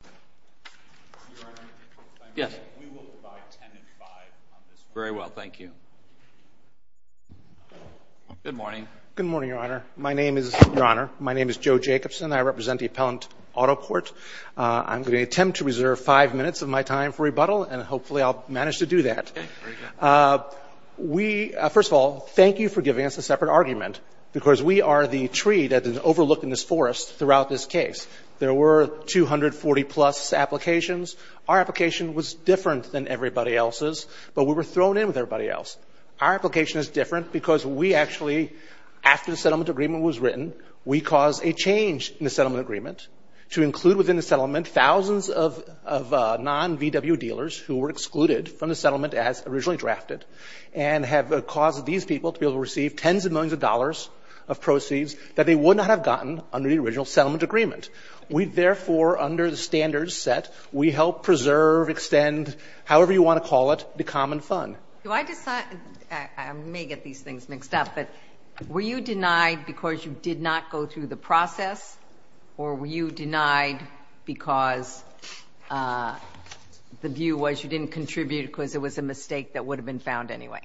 Your Honor, we will divide 10 and 5 on this one. Very well, thank you. Good morning. Good morning, Your Honor. My name is Joe Jacobson. I represent the Appellant Auto Court. I'm going to attempt to reserve five minutes of my time for rebuttal, and hopefully I'll manage to do that. First of all, thank you for giving us a separate argument, because we are the tree that is overlooked in this forest throughout this case. There were 240-plus applications. Our application was different than everybody else's, but we were thrown in with everybody else's. Our application is different because we actually, after the settlement agreement was written, we caused a change in the settlement agreement to include within the settlement thousands of non-VW dealers who were excluded from the settlement as originally drafted, and have caused these people to be able to receive tens of millions of dollars of proceeds that they would not have gotten under the original settlement agreement. We therefore, under the standards set, we help preserve, extend, however you want to call it, the common fund. I may get these things mixed up, but were you denied because you did not go through the process, or were you denied because the view was you didn't contribute because it was a mistake that would have been found anyway?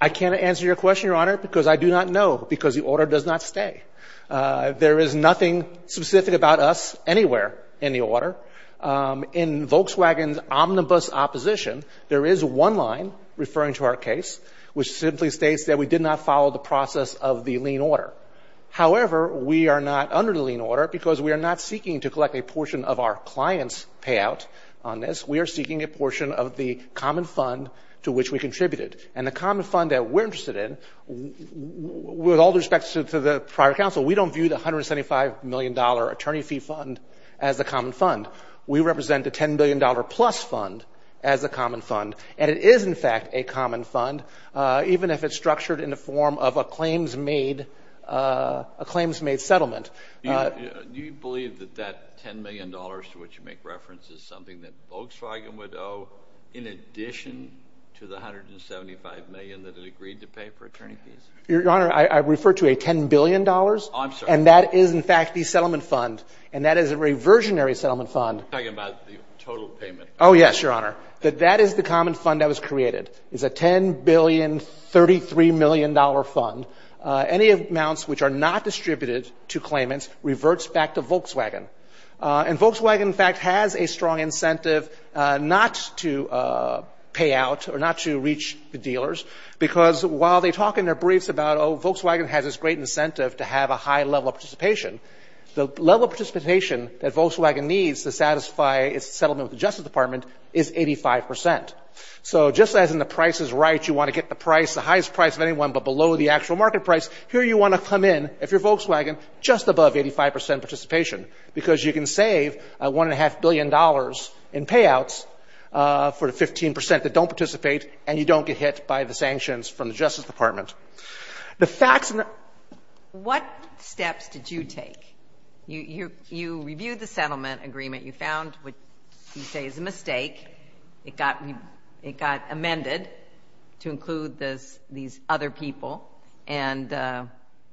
I can't answer your question, Your Honor, because I do not know, because the order does not stay. There is nothing specific about us anywhere in the order. In Volkswagen's omnibus opposition, there is one line referring to our case, which simply states that we did not follow the process of the lien order. However, we are not under the lien order because we are not seeking to collect a portion of our client's payout on this. We are seeking a portion of the common fund to which we contributed. And the common fund that we're interested in, with all respects to the private counsel, we don't view the $175 million attorney fee fund as the common fund. We represent the $10 billion plus fund as the common fund, and it is, in fact, a common fund, even if it's structured in the form of a claims-made settlement. Do you believe that that $10 million to which you make reference is something that Volkswagen would owe in addition to the $175 million that it agreed to pay for attorney fees? Your Honor, I refer to a $10 billion. Oh, I'm sorry. And that is, in fact, the settlement fund. And that is a reversionary settlement fund. I'm talking about the total payment. Oh, yes, Your Honor. That is the common fund that was created. It's a $10,033,000,000 fund. Any amounts which are not distributed to claimants reverts back to Volkswagen. And Volkswagen, in fact, has a strong incentive not to pay out or not to reach the dealers, because while they talk in their briefs about, oh, Volkswagen has this great incentive to have a high level of participation, the level of participation that Volkswagen needs to satisfy its settlement with the Justice Department is 85 percent. So just as in the price is right, you want to get the price, the highest price of anyone but below the actual market price, here you want to come in, if you're Volkswagen, just above 85 percent participation. Because you can save $1.5 billion in payouts for the 15 percent that don't participate, and you don't get hit by the sanctions from the Justice Department. The facts in the – What steps did you take? You reviewed the settlement agreement. You found what you say is a mistake. It got amended to include these other people. And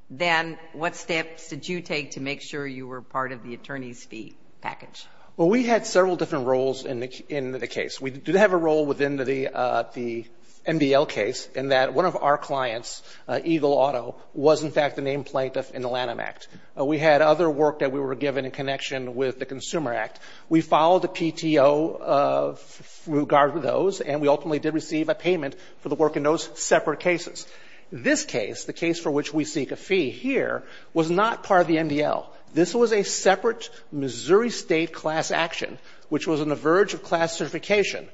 then what steps did you take to make sure you were part of the attorney's fee package? Well, we had several different roles in the case. We did have a role within the MDL case in that one of our clients, Eagle Auto, was, in fact, the named plaintiff in the Lanham Act. We had other work that we were given in connection with the Consumer Act. We followed the PTO with regard to those, and we ultimately did receive a payment for the work in those separate cases. This case, the case for which we seek a fee here, was not part of the MDL. This was a separate Missouri State class action, which was on the verge of class certification.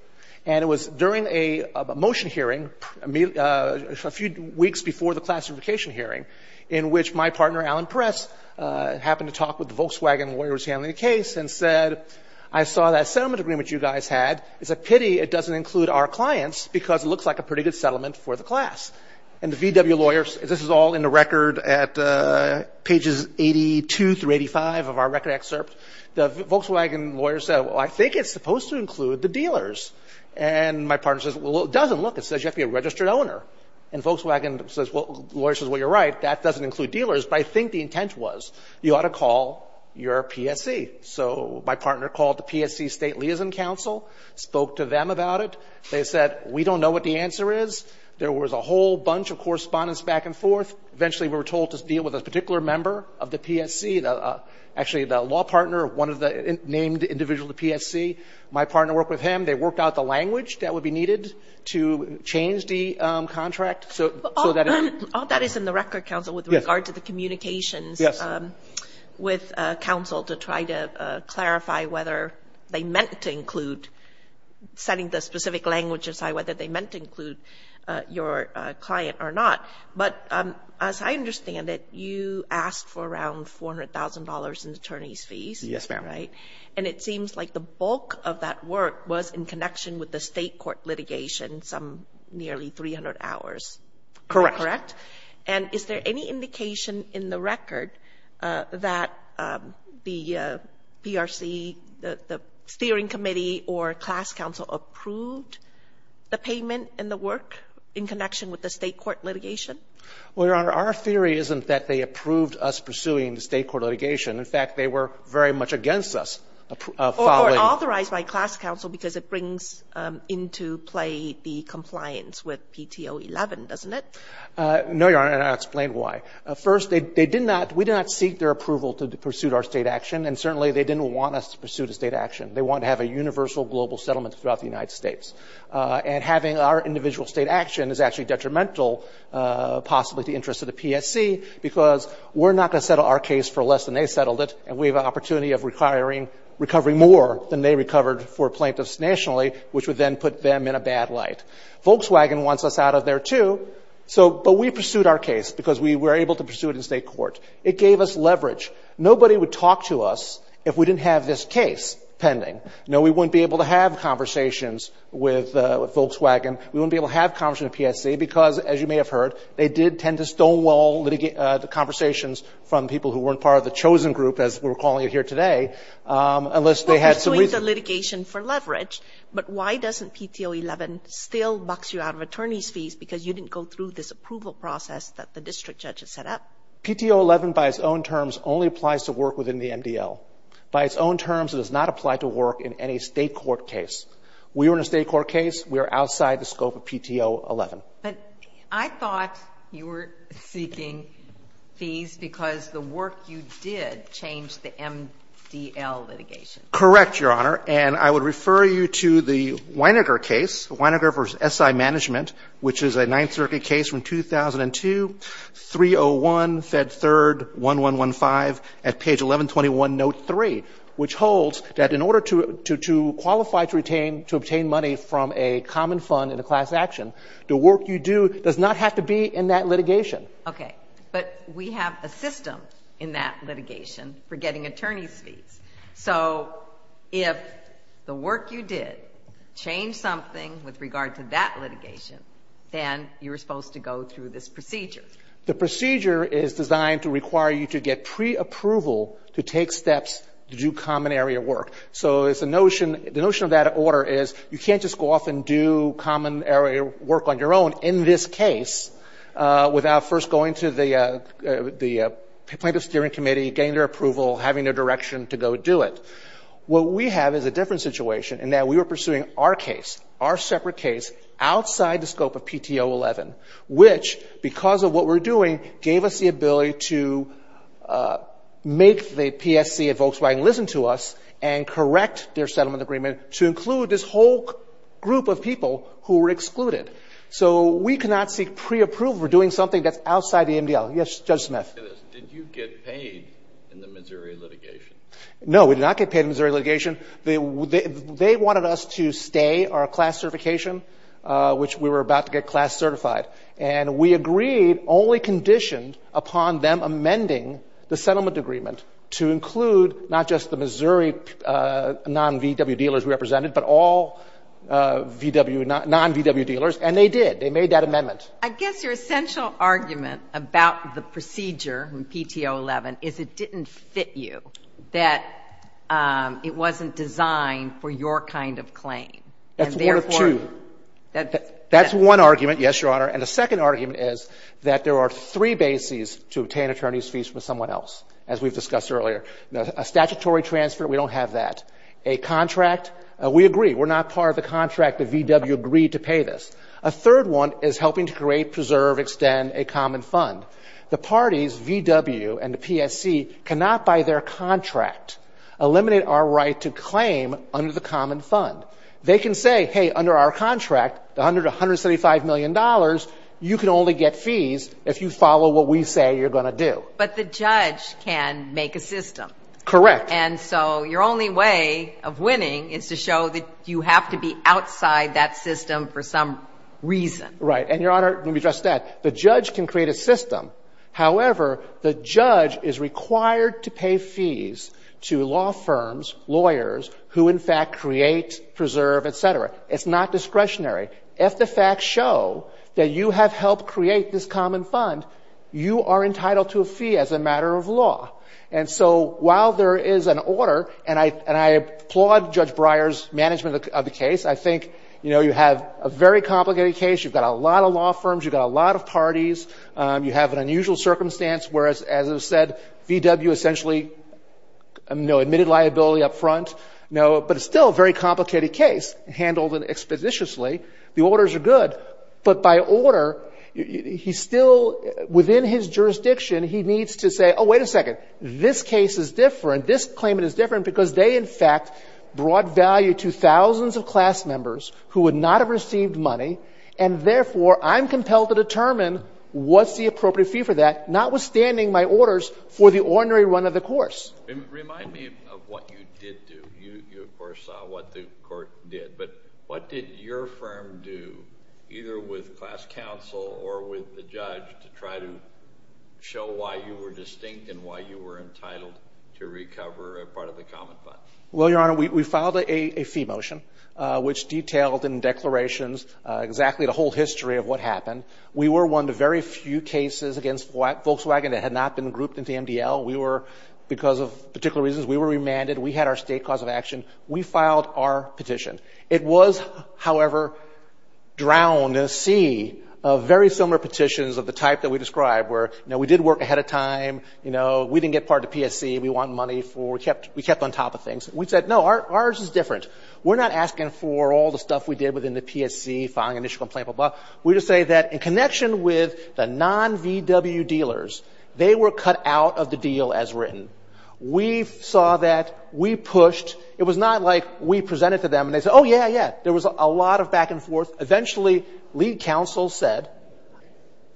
And it was during a motion hearing a few weeks before the class certification hearing in which my partner, Alan Perez, happened to talk with the Volkswagen lawyers handling the case and said, I saw that settlement agreement you guys had. It's a pity it doesn't include our clients because it looks like a pretty good settlement for the class. And the VW lawyers, this is all in the record at pages 82 through 85 of our record excerpt. The Volkswagen lawyers said, well, I think it's supposed to include the dealers. And my partner says, well, it doesn't. Look, it says you have to be a registered owner. And Volkswagen says, well, the lawyer says, well, you're right. That doesn't include dealers. But I think the intent was you ought to call your PSC. So my partner called the PSC State Liaison Council, spoke to them about it. They said, we don't know what the answer is. There was a whole bunch of correspondence back and forth. Eventually, we were told to deal with a particular member of the PSC, actually the law partner of one of the named individuals of the PSC. My partner worked with him. They worked out the language that would be needed to change the contract. All that is in the record, counsel, with regard to the communications with counsel to try to clarify whether they meant to include setting the specific language aside, whether they meant to include your client or not. But as I understand it, you asked for around $400,000 in attorney's fees. Yes, ma'am. Right? And it seems like the bulk of that work was in connection with the state court litigation, some nearly 300 hours. Correct. Correct? And is there any indication in the record that the PRC, the steering committee or class counsel approved the payment and the work in connection with the state court litigation? Well, Your Honor, our theory isn't that they approved us pursuing the state court litigation. In fact, they were very much against us following. Or authorized by class counsel because it brings into play the compliance with PTO 11, doesn't it? No, Your Honor, and I'll explain why. First, they did not, we did not seek their approval to pursue our state action, and certainly they didn't want us to pursue the state action. They wanted to have a universal global settlement throughout the United States. And having our individual state action is actually detrimental possibly to the interest of the PSC because we're not going to settle our case for less than they settled it, and we have an opportunity of requiring, recovering more than they recovered for plaintiffs nationally, which would then put them in a bad light. Volkswagen wants us out of there, too. So, but we pursued our case because we were able to pursue it in state court. It gave us leverage. Nobody would talk to us if we didn't have this case pending. No, we wouldn't be able to have conversations with Volkswagen. We wouldn't be able to have conversations with PSC because, as you may have heard, they did tend to stonewall the conversations from people who weren't part of the chosen group, as we're calling it here today, unless they had some reason. But why doesn't PTO 11 still box you out of attorney's fees because you didn't go through this approval process that the district judge has set up? PTO 11, by its own terms, only applies to work within the MDL. By its own terms, it does not apply to work in any State court case. We were in a State court case. We are outside the scope of PTO 11. But I thought you were seeking fees because the work you did changed the MDL litigation. Correct, Your Honor. And I would refer you to the Wienerger case, Wienerger v. SI Management, which is a Ninth Circuit case from 2002, 301, Fed 3rd, 1115, at page 1121, note 3, which holds that in order to qualify to obtain money from a common fund in a class action, the work you do does not have to be in that litigation. Okay. But we have a system in that litigation for getting attorney's fees. So if the work you did changed something with regard to that litigation, then you were supposed to go through this procedure. The procedure is designed to require you to get preapproval to take steps to do common area work. So the notion of that order is you can't just go off and do common area work on your own in this case without first going to the plaintiff's steering committee, getting their approval, having their direction to go do it. What we have is a different situation in that we are pursuing our case, our separate case, outside the scope of PTO 11, which because of what we're doing gave us the ability to make the PSC at Volkswagen listen to us and correct their settlement agreement to include this whole group of people who were excluded. So we cannot seek preapproval for doing something that's outside the MDL. Yes, Judge Smith. Did you get paid in the Missouri litigation? No, we did not get paid in the Missouri litigation. They wanted us to stay our class certification, which we were about to get class certified. And we agreed only conditioned upon them amending the settlement agreement to include not just the Missouri non-VW dealers we represented, but all non-VW dealers. And they did. They made that amendment. I guess your essential argument about the procedure in PTO 11 is it didn't fit you, that it wasn't designed for your kind of claim. That's one of two. That's one argument, yes, Your Honor. And the second argument is that there are three bases to obtain attorney's fees from someone else, as we've discussed earlier. A statutory transfer, we don't have that. A contract, we agree. We're not part of the contract that VW agreed to pay this. A third one is helping to create, preserve, extend a common fund. The parties, VW and the PSC, cannot, by their contract, eliminate our right to claim under the common fund. They can say, hey, under our contract, the $175 million, you can only get fees if you follow what we say you're going to do. But the judge can make a system. Correct. And so your only way of winning is to show that you have to be outside that system for some reason. Right. And, Your Honor, let me address that. The judge can create a system. However, the judge is required to pay fees to law firms, lawyers, who in fact create, preserve, et cetera. It's not discretionary. If the facts show that you have helped create this common fund, you are entitled to a fee as a matter of law. And so while there is an order, and I applaud Judge Breyer's management of the case, I think, you know, you have a very complicated case. You've got a lot of law firms. You've got a lot of parties. You have an unusual circumstance, whereas, as I said, VW essentially, you know, admitted liability up front. But it's still a very complicated case, handled expeditiously. The orders are good. But by order, he still, within his jurisdiction, he needs to say, oh, wait a second. This case is different. This claimant is different because they, in fact, brought value to thousands of class members who would not have received money, and therefore I'm compelled to determine what's the appropriate fee for that, notwithstanding my orders for the ordinary run of the course. Remind me of what you did do. You, of course, saw what the court did. But what did your firm do, either with class counsel or with the judge, to try to show why you were distinct and why you were entitled to recover a part of the common fund? Well, Your Honor, we filed a fee motion, which detailed in declarations exactly the whole history of what happened. We were one of the very few cases against Volkswagen that had not been grouped into MDL. We were, because of particular reasons, we were remanded. We had our state cause of action. We filed our petition. It was, however, drowned in a sea of very similar petitions of the type that we described, where, you know, we did work ahead of time. You know, we didn't get part of the PSC. We want money for, we kept on top of things. We said, no, ours is different. We're not asking for all the stuff we did within the PSC, filing initial complaint, blah, blah, blah. We just say that in connection with the non-VW dealers, they were cut out of the deal as written. We saw that. We pushed. It was not like we presented to them and they said, oh, yeah, yeah. There was a lot of back and forth. Eventually, lead counsel said,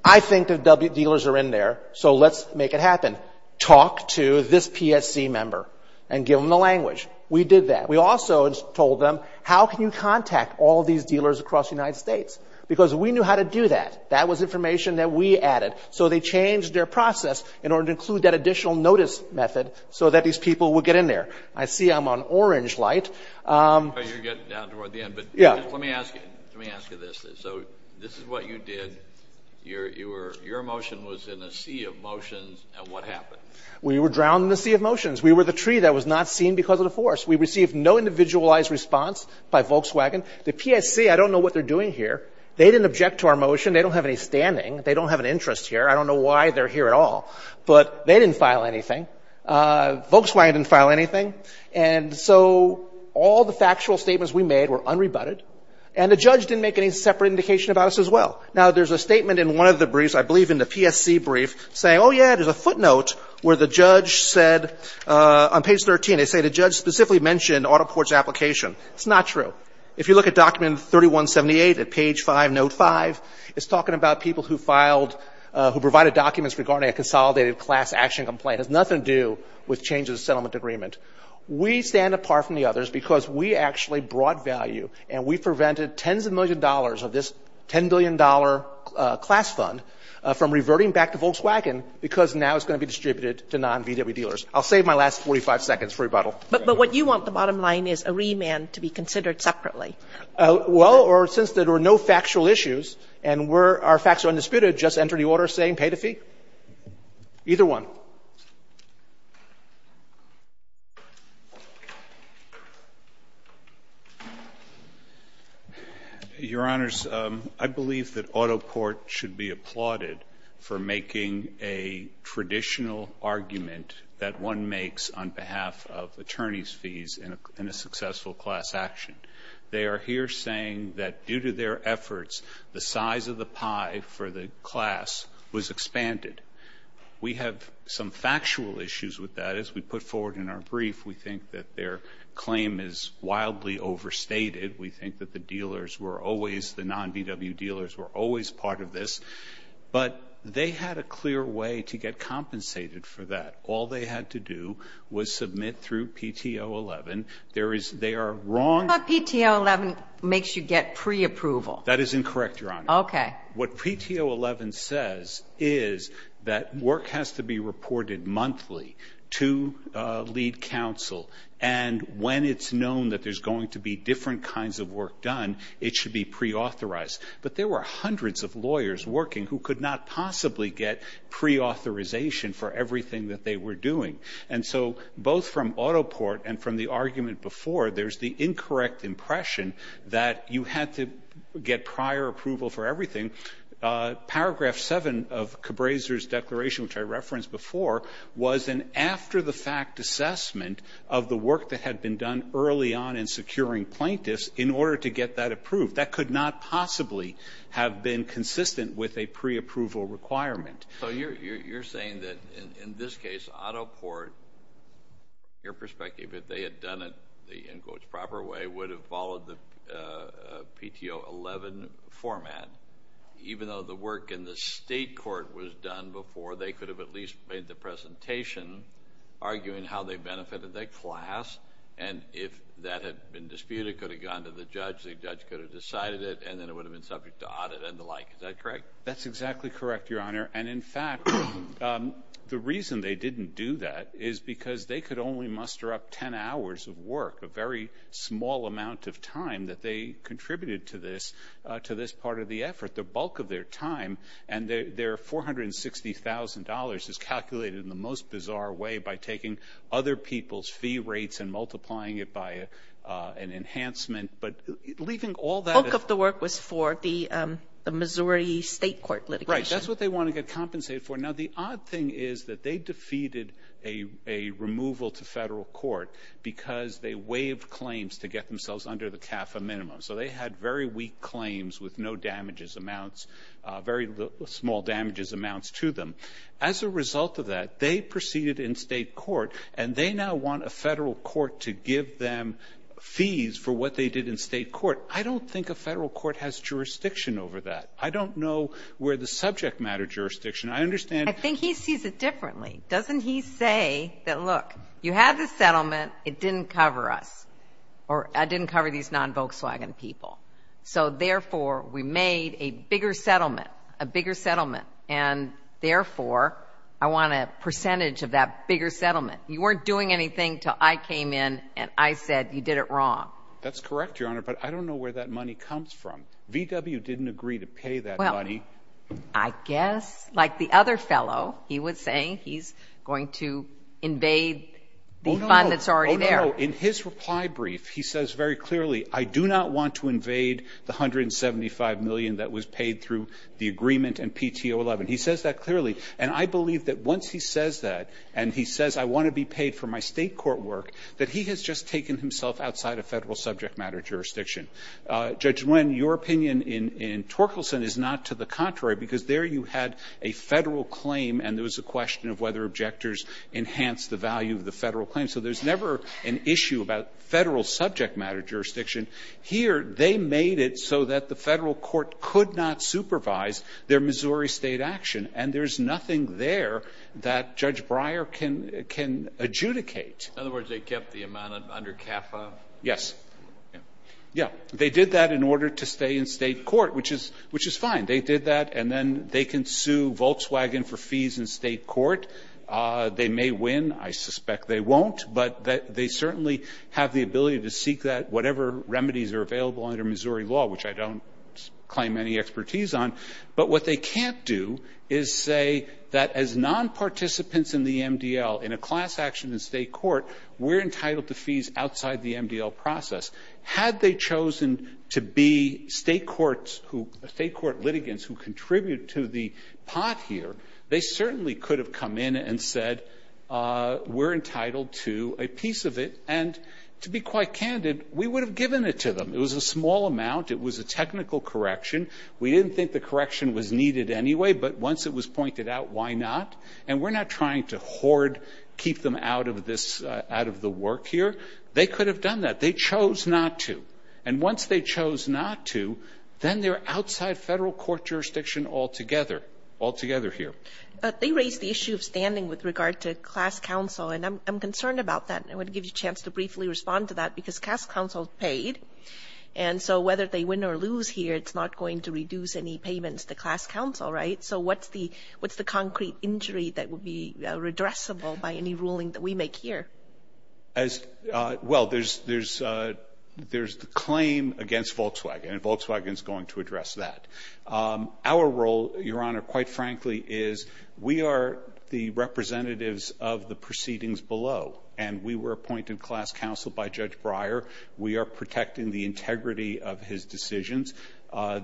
I think the W dealers are in there, so let's make it happen. Talk to this PSC member and give them the language. We did that. We also told them, how can you contact all these dealers across the United States? Because we knew how to do that. That was information that we added. So they changed their process in order to include that additional notice method so that these people would get in there. I see I'm on orange light. You're getting down toward the end. But let me ask you this. So this is what you did. Your motion was in a sea of motions, and what happened? We were drowned in a sea of motions. We were the tree that was not seen because of the force. We received no individualized response by Volkswagen. The PSC, I don't know what they're doing here. They didn't object to our motion. They don't have any standing. They don't have an interest here. I don't know why they're here at all. But they didn't file anything. Volkswagen didn't file anything. And so all the factual statements we made were unrebutted, and the judge didn't make any separate indication about us as well. Now, there's a statement in one of the briefs, I believe in the PSC brief, saying, oh, yeah, there's a footnote where the judge said on page 13, they say the judge specifically mentioned AutoPort's application. It's not true. If you look at document 3178 at page 5, note 5, it's talking about people who filed, who provided documents regarding a consolidated class action complaint. It has nothing to do with changes to the settlement agreement. We stand apart from the others because we actually brought value, and we prevented tens of millions of dollars of this $10 billion class fund from reverting back to Volkswagen because now it's going to be distributed to non-VW dealers. I'll save my last 45 seconds for rebuttal. But what you want, the bottom line, is a remand to be considered separately. Well, or since there were no factual issues and our facts are undisputed, just enter the order saying pay to fee? Either one. Your Honors, I believe that AutoPort should be applauded for making a traditional argument that one makes on behalf of attorney's fees in a successful class action. They are here saying that due to their efforts, the size of the pie for the class was expanded. We have some factual issues with that. As we put forward in our brief, we think that their claim is wildly overstated. We think that the dealers were always, the non-VW dealers were always part of this. But they had a clear way to get compensated for that. All they had to do was submit through PTO 11. There is, they are wrong. PTO 11 makes you get pre-approval. That is incorrect, Your Honor. Okay. What PTO 11 says is that work has to be reported monthly to lead counsel. And when it's known that there's going to be different kinds of work done, it should be pre-authorized. But there were hundreds of lawyers working who could not possibly get pre-authorization for everything that they were doing. And so both from AutoPort and from the argument before, there's the incorrect impression that you had to get prior approval for everything. Paragraph 7 of Cabraser's declaration, which I referenced before, was an after-the-fact assessment of the work that had been done early on in securing plaintiffs in order to get that approved. That could not possibly have been consistent with a pre-approval requirement. So you're saying that, in this case, AutoPort, from your perspective, if they had done it the, in quotes, proper way, would have followed the PTO 11 format, even though the work in the state court was done before, they could have at least made the presentation arguing how they benefited their class. And if that had been disputed, it could have gone to the judge, the judge could have decided it, and then it would have been subject to audit and the like. Is that correct? That's exactly correct, Your Honor. And, in fact, the reason they didn't do that is because they could only muster up 10 hours of work, a very small amount of time that they contributed to this part of the effort. The bulk of their time and their $460,000 is calculated in the most bizarre way by taking other people's fee rates and multiplying it by an enhancement. But leaving all that... The bulk of the work was for the Missouri State Court litigation. Right. That's what they want to get compensated for. Now, the odd thing is that they defeated a removal to federal court because they waived claims to get themselves under the CAFA minimum. So they had very weak claims with no damages amounts, very small damages amounts to them. As a result of that, they proceeded in state court, and they now want a federal court to give them fees for what they did in state court. I don't think a federal court has jurisdiction over that. I don't know where the subject matter jurisdiction. I understand... I think he sees it differently. Doesn't he say that, look, you had the settlement. It didn't cover us, or it didn't cover these non-Volkswagen people. So, therefore, we made a bigger settlement, a bigger settlement, and, therefore, I want a percentage of that bigger settlement. You weren't doing anything until I came in and I said you did it wrong. That's correct, Your Honor, but I don't know where that money comes from. VW didn't agree to pay that money. Well, I guess, like the other fellow, he was saying he's going to invade the fund that's already there. Oh, no. Oh, no. In his reply brief, he says very clearly, I do not want to invade the $175 million that was paid through the agreement and PTO-11. He says that clearly, and I believe that once he says that, and he says I want to be paid for my state court work, that he has just taken himself outside of federal subject matter jurisdiction. Judge Nguyen, your opinion in Torkelson is not to the contrary, because there you had a Federal claim and there was a question of whether objectors enhanced the value of the Federal claim. So there's never an issue about Federal subject matter jurisdiction. Here, they made it so that the Federal court could not supervise their Missouri State action, and there's nothing there that Judge Breyer can adjudicate. In other words, they kept the amount under CAFA? Yes. Yeah. They did that in order to stay in state court, which is fine. They did that, and then they can sue Volkswagen for fees in state court. They may win. I suspect they won't, but they certainly have the ability to seek that, whatever remedies are available under Missouri law, which I don't claim any expertise on, but what they can't do is say that as nonparticipants in the MDL, in a class action in state court, we're entitled to fees outside the MDL process. Had they chosen to be state courts who – state court litigants who contribute to the pot here, they certainly could have come in and said, we're entitled to a piece of it, and to be quite candid, we would have given it to them. It was a small amount. It was a technical correction. We didn't think the correction was needed anyway, but once it was pointed out, why not? And we're not trying to hoard, keep them out of this – out of the work here. They could have done that. They chose not to. And once they chose not to, then they're outside Federal court jurisdiction altogether, altogether here. They raised the issue of standing with regard to class counsel, and I'm concerned about that. I want to give you a chance to briefly respond to that, because class counsel is paid, and so whether they win or lose here, it's not going to reduce any payments to class counsel, right? So what's the concrete injury that would be redressable by any ruling that we make here? Well, there's the claim against Volkswagen, and Volkswagen is going to address that. Our role, Your Honor, quite frankly, is we are the representatives of the proceedings below, and we were appointed class counsel by Judge Breyer. We are protecting the integrity of his decisions.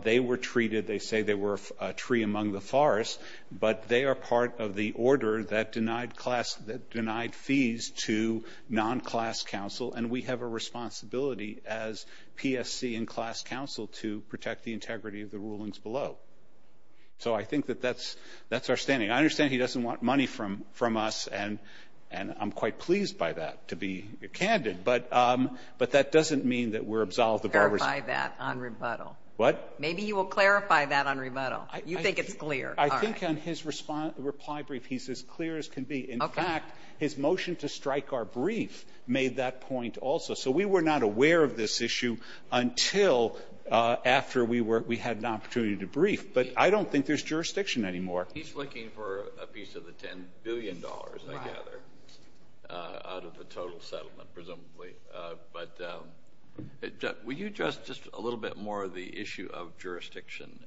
They were treated – they say they were a tree among the fallen. They were a forest, but they are part of the order that denied fees to non-class counsel, and we have a responsibility as PSC and class counsel to protect the integrity of the rulings below. So I think that that's our standing. I understand he doesn't want money from us, and I'm quite pleased by that, to be candid, but that doesn't mean that we're absolved of our responsibility. Clarify that on rebuttal. What? Maybe you will clarify that on rebuttal. You think it's clear. All right. I think on his reply brief, he's as clear as can be. In fact, his motion to strike our brief made that point also. So we were not aware of this issue until after we had an opportunity to brief, but I don't think there's jurisdiction anymore. He's looking for a piece of the $10 billion, I gather, out of the total settlement, presumably. But will you address just a little bit more of the issue of jurisdiction?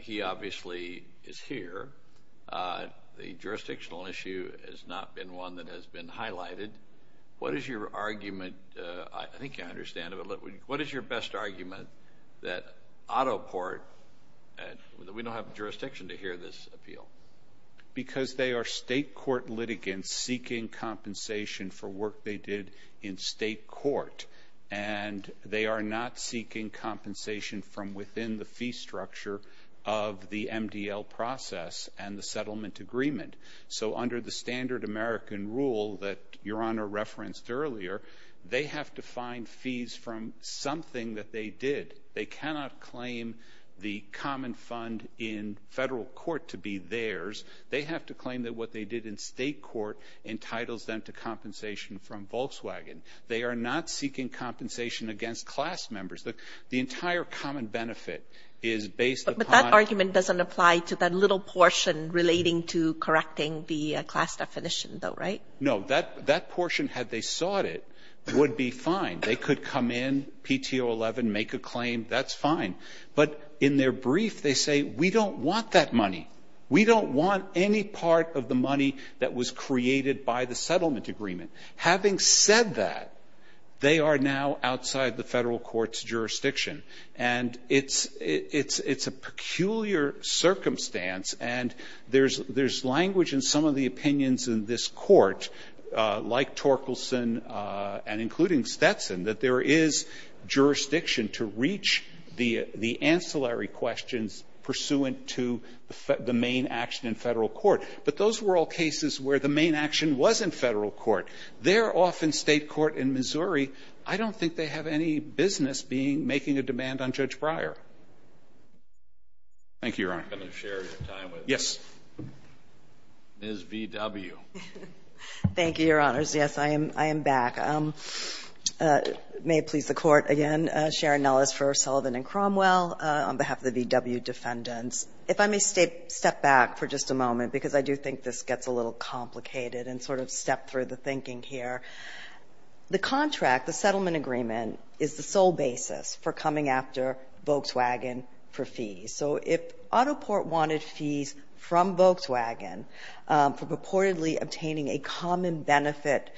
He obviously is here. The jurisdictional issue has not been one that has been highlighted. What is your argument? I think I understand it, but what is your best argument that Autoport – we don't have jurisdiction to hear this appeal? Because they are state court litigants seeking compensation for work they did in state court, and they are not seeking compensation from within the fee structure of the MDL process and the settlement agreement. So under the standard American rule that Your Honor referenced earlier, they have to find fees from something that they did. They cannot claim the common fund in federal court to be theirs. They have to claim that what they did in state court entitles them to compensation from Volkswagen. They are not seeking compensation against class members. The entire common benefit is based upon – But that argument doesn't apply to that little portion relating to correcting the class definition, though, right? No. That portion, had they sought it, would be fine. They could come in, PTO 11, make a claim. That's fine. But in their brief, they say, we don't want that money. We don't want any part of the money that was created by the settlement agreement. Having said that, they are now outside the federal court's jurisdiction. And it's a peculiar circumstance, and there's language in some of the opinions in this Court, like Torkelson and including Stetson, that there is jurisdiction to reach the ancillary questions pursuant to the main action in federal court. But those were all cases where the main action was in federal court. They're off in state court in Missouri. I don't think they have any business being – making a demand on Judge Breyer. Thank you, Your Honor. I'm going to share your time with Ms. V.W. Thank you, Your Honors. Yes, I am back. May it please the Court, again, Sharon Nellis for Sullivan and Cromwell on behalf of the V.W. defendants. If I may step back for just a moment, because I do think this gets a little complicated and sort of step through the thinking here. The contract, the settlement agreement, is the sole basis for coming after Volkswagen for fees. So if Autoport wanted fees from Volkswagen for purportedly obtaining a common benefit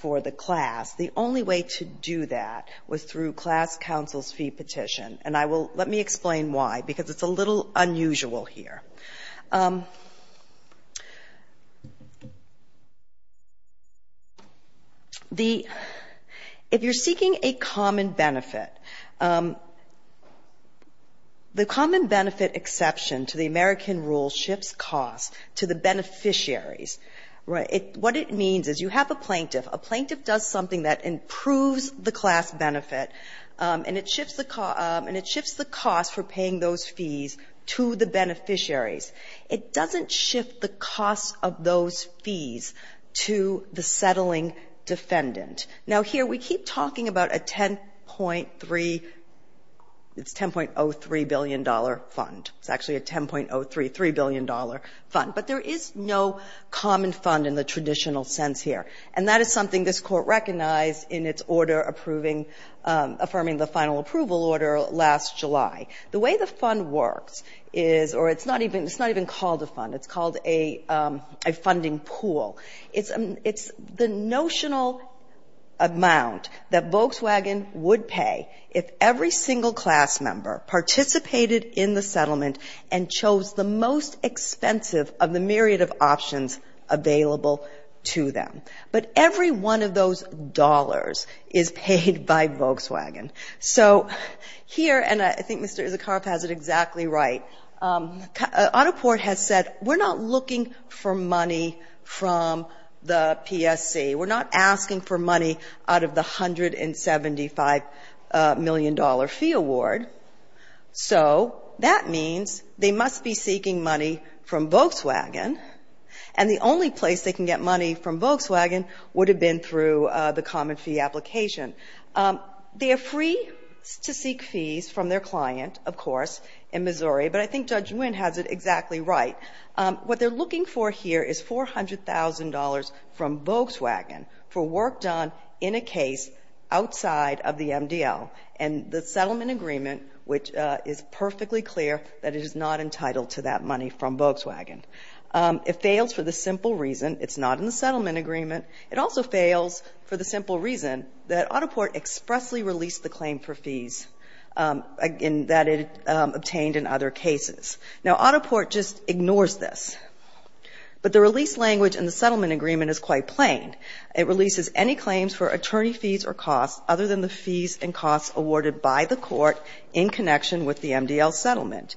for the class, the only way to do that was through class counsel's fee petition. And I will – let me explain why, because it's a little unusual here. The – if you're seeking a common benefit, the common benefit exception to the American rule shifts costs to the beneficiaries. What it means is you have a plaintiff. A plaintiff does something that improves the class benefit, and it shifts the cost for paying those fees to the beneficiaries. It doesn't shift the cost of those fees to the settling defendant. Now, here we keep talking about a 10.3 – it's $10.03 billion fund. It's actually a $10.033 billion fund. But there is no common fund in the traditional sense here. And that is something this Court recognized in its order approving – affirming the final approval order last July. The way the fund works is – or it's not even – it's not even called a fund. It's called a funding pool. It's the notional amount that Volkswagen would pay if every single class member participated in the settlement and chose the most expensive of the myriad of options available to them. But every one of those dollars is paid by Volkswagen. So here – and I think Mr. Isikaroff has it exactly right – Autoport has said we're not looking for money from the PSC. We're not asking for money out of the $175 million fee award. So that means they must be seeking money from Volkswagen. And the only place they can get money from Volkswagen would have been through the common fee application. They are free to seek fees from their client, of course, in Missouri. But I think Judge Nguyen has it exactly right. What they're looking for here is $400,000 from Volkswagen for work done in a case outside of the MDL and the settlement agreement, which is perfectly clear that it is not entitled to that money from Volkswagen. It fails for the simple reason it's not in the settlement agreement. It also fails for the simple reason that Autoport expressly released the claim for fees that it obtained in other cases. Now, Autoport just ignores this. But the release language in the settlement agreement is quite plain. It releases any claims for attorney fees or costs other than the fees and costs awarded by the court in connection with the MDL settlement.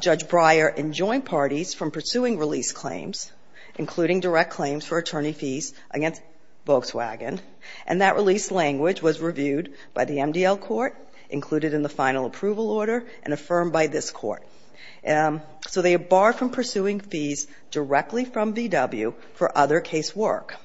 Judge Breyer and joint parties from pursuing release claims, including direct claims for attorney fees against Volkswagen, and that release language was reviewed by the MDL court, included in the final approval order, and affirmed by this court. So they are barred from pursuing fees directly from VW for other case work.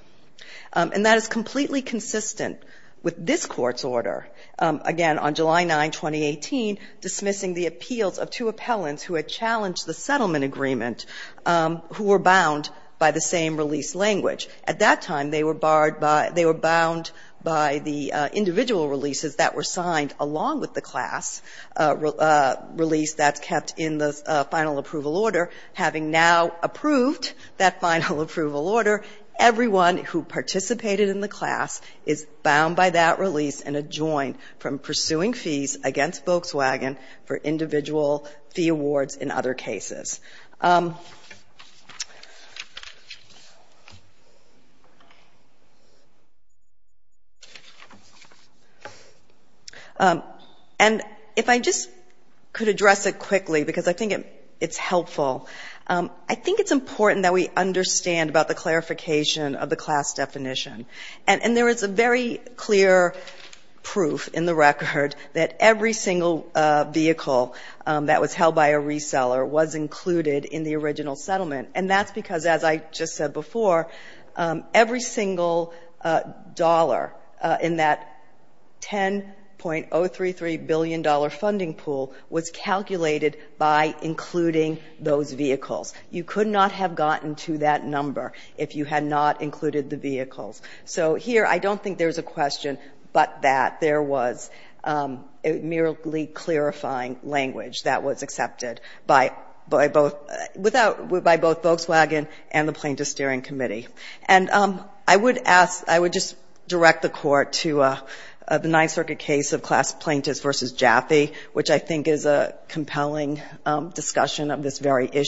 And that is completely consistent with this Court's order, again, on July 9, 2018, dismissing the appeals of two appellants who had challenged the settlement agreement, who were bound by the same release language. At that time, they were barred by the individual releases that were signed along with the class release that's kept in the final approval order. Having now approved that final approval order, everyone who participated in the class is bound by that release and adjoined from pursuing fees against Volkswagen for individual fee awards in other cases. And if I just could address it quickly, because I think it's helpful, I think it's important that we understand about the clarification of the class definition. And there is a very clear proof in the record that every single class definition every single vehicle that was held by a reseller was included in the original settlement. And that's because, as I just said before, every single dollar in that $10.033 billion funding pool was calculated by including those vehicles. You could not have gotten to that number if you had not included the vehicles. So here, I don't think there's a question but that there was a merely clarifying language that was accepted by both Volkswagen and the Plaintiff Steering Committee. And I would ask, I would just direct the Court to the Ninth Circuit case of class plaintiffs versus Jaffe, which I think is a compelling discussion of this very a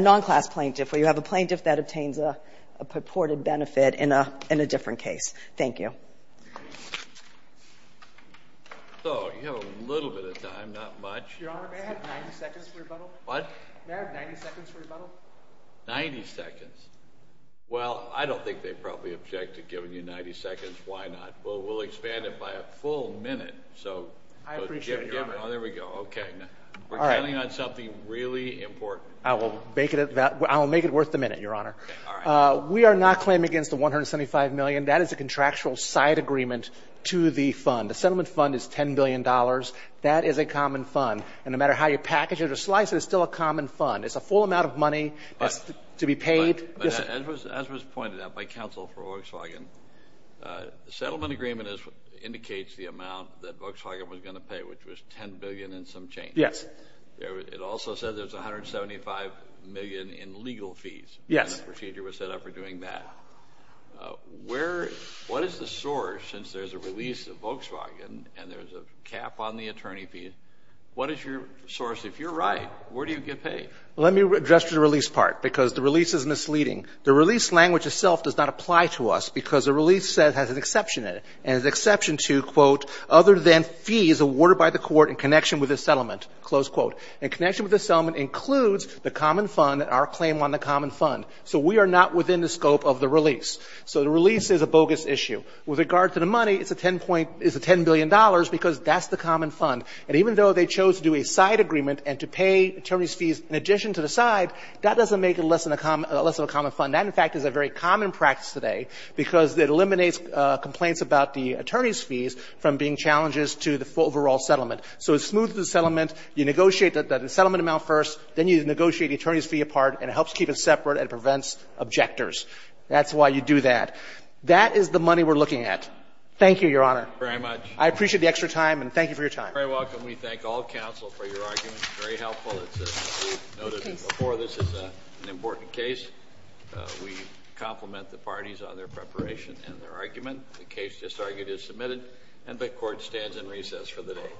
non-class plaintiff where you have a plaintiff that obtains a purported benefit in a different case. Thank you. So, you have a little bit of time, not much. Your Honor, may I have 90 seconds for rebuttal? What? May I have 90 seconds for rebuttal? 90 seconds. Well, I don't think they probably object to giving you 90 seconds. Why not? We'll expand it by a full minute. I appreciate it, Your Honor. So, there we go. Okay. We're counting on something really important. I will make it worth the minute, Your Honor. All right. We are not claiming against the $175 million. That is a contractual side agreement to the fund. The settlement fund is $10 billion. That is a common fund. And no matter how you package it or slice it, it's still a common fund. It's a full amount of money to be paid. But as was pointed out by counsel for Volkswagen, the settlement agreement indicates the amount that Volkswagen was going to pay, which was $10 billion and some change. Yes. It also says there's $175 million in legal fees. Yes. The procedure was set up for doing that. What is the source, since there's a release of Volkswagen and there's a cap on the attorney fee? What is your source? If you're right, where do you get paid? Let me address the release part because the release is misleading. The release language itself does not apply to us because the release has an exception in it. It has an exception to, quote, other than fees awarded by the court in connection with the settlement, close quote. In connection with the settlement includes the common fund and our claim on the common fund. So we are not within the scope of the release. So the release is a bogus issue. With regard to the money, it's a $10 billion because that's the common fund. And even though they chose to do a side agreement and to pay attorneys' fees in addition to the side, that doesn't make it less of a common fund. That, in fact, is a very common practice today because it eliminates complaints about the attorneys' fees from being challenges to the overall settlement. So it smooths the settlement. You negotiate the settlement amount first. Then you negotiate the attorneys' fee apart. And it helps keep it separate and prevents objectors. That's why you do that. That is the money we're looking at. Thank you, Your Honor. Very much. I appreciate the extra time and thank you for your time. You're very welcome. We thank all counsel for your arguments. Very helpful. It's noted before this is an important case. We compliment the parties on their preparation and their argument. The case just argued is submitted and the court stands in recess for the day.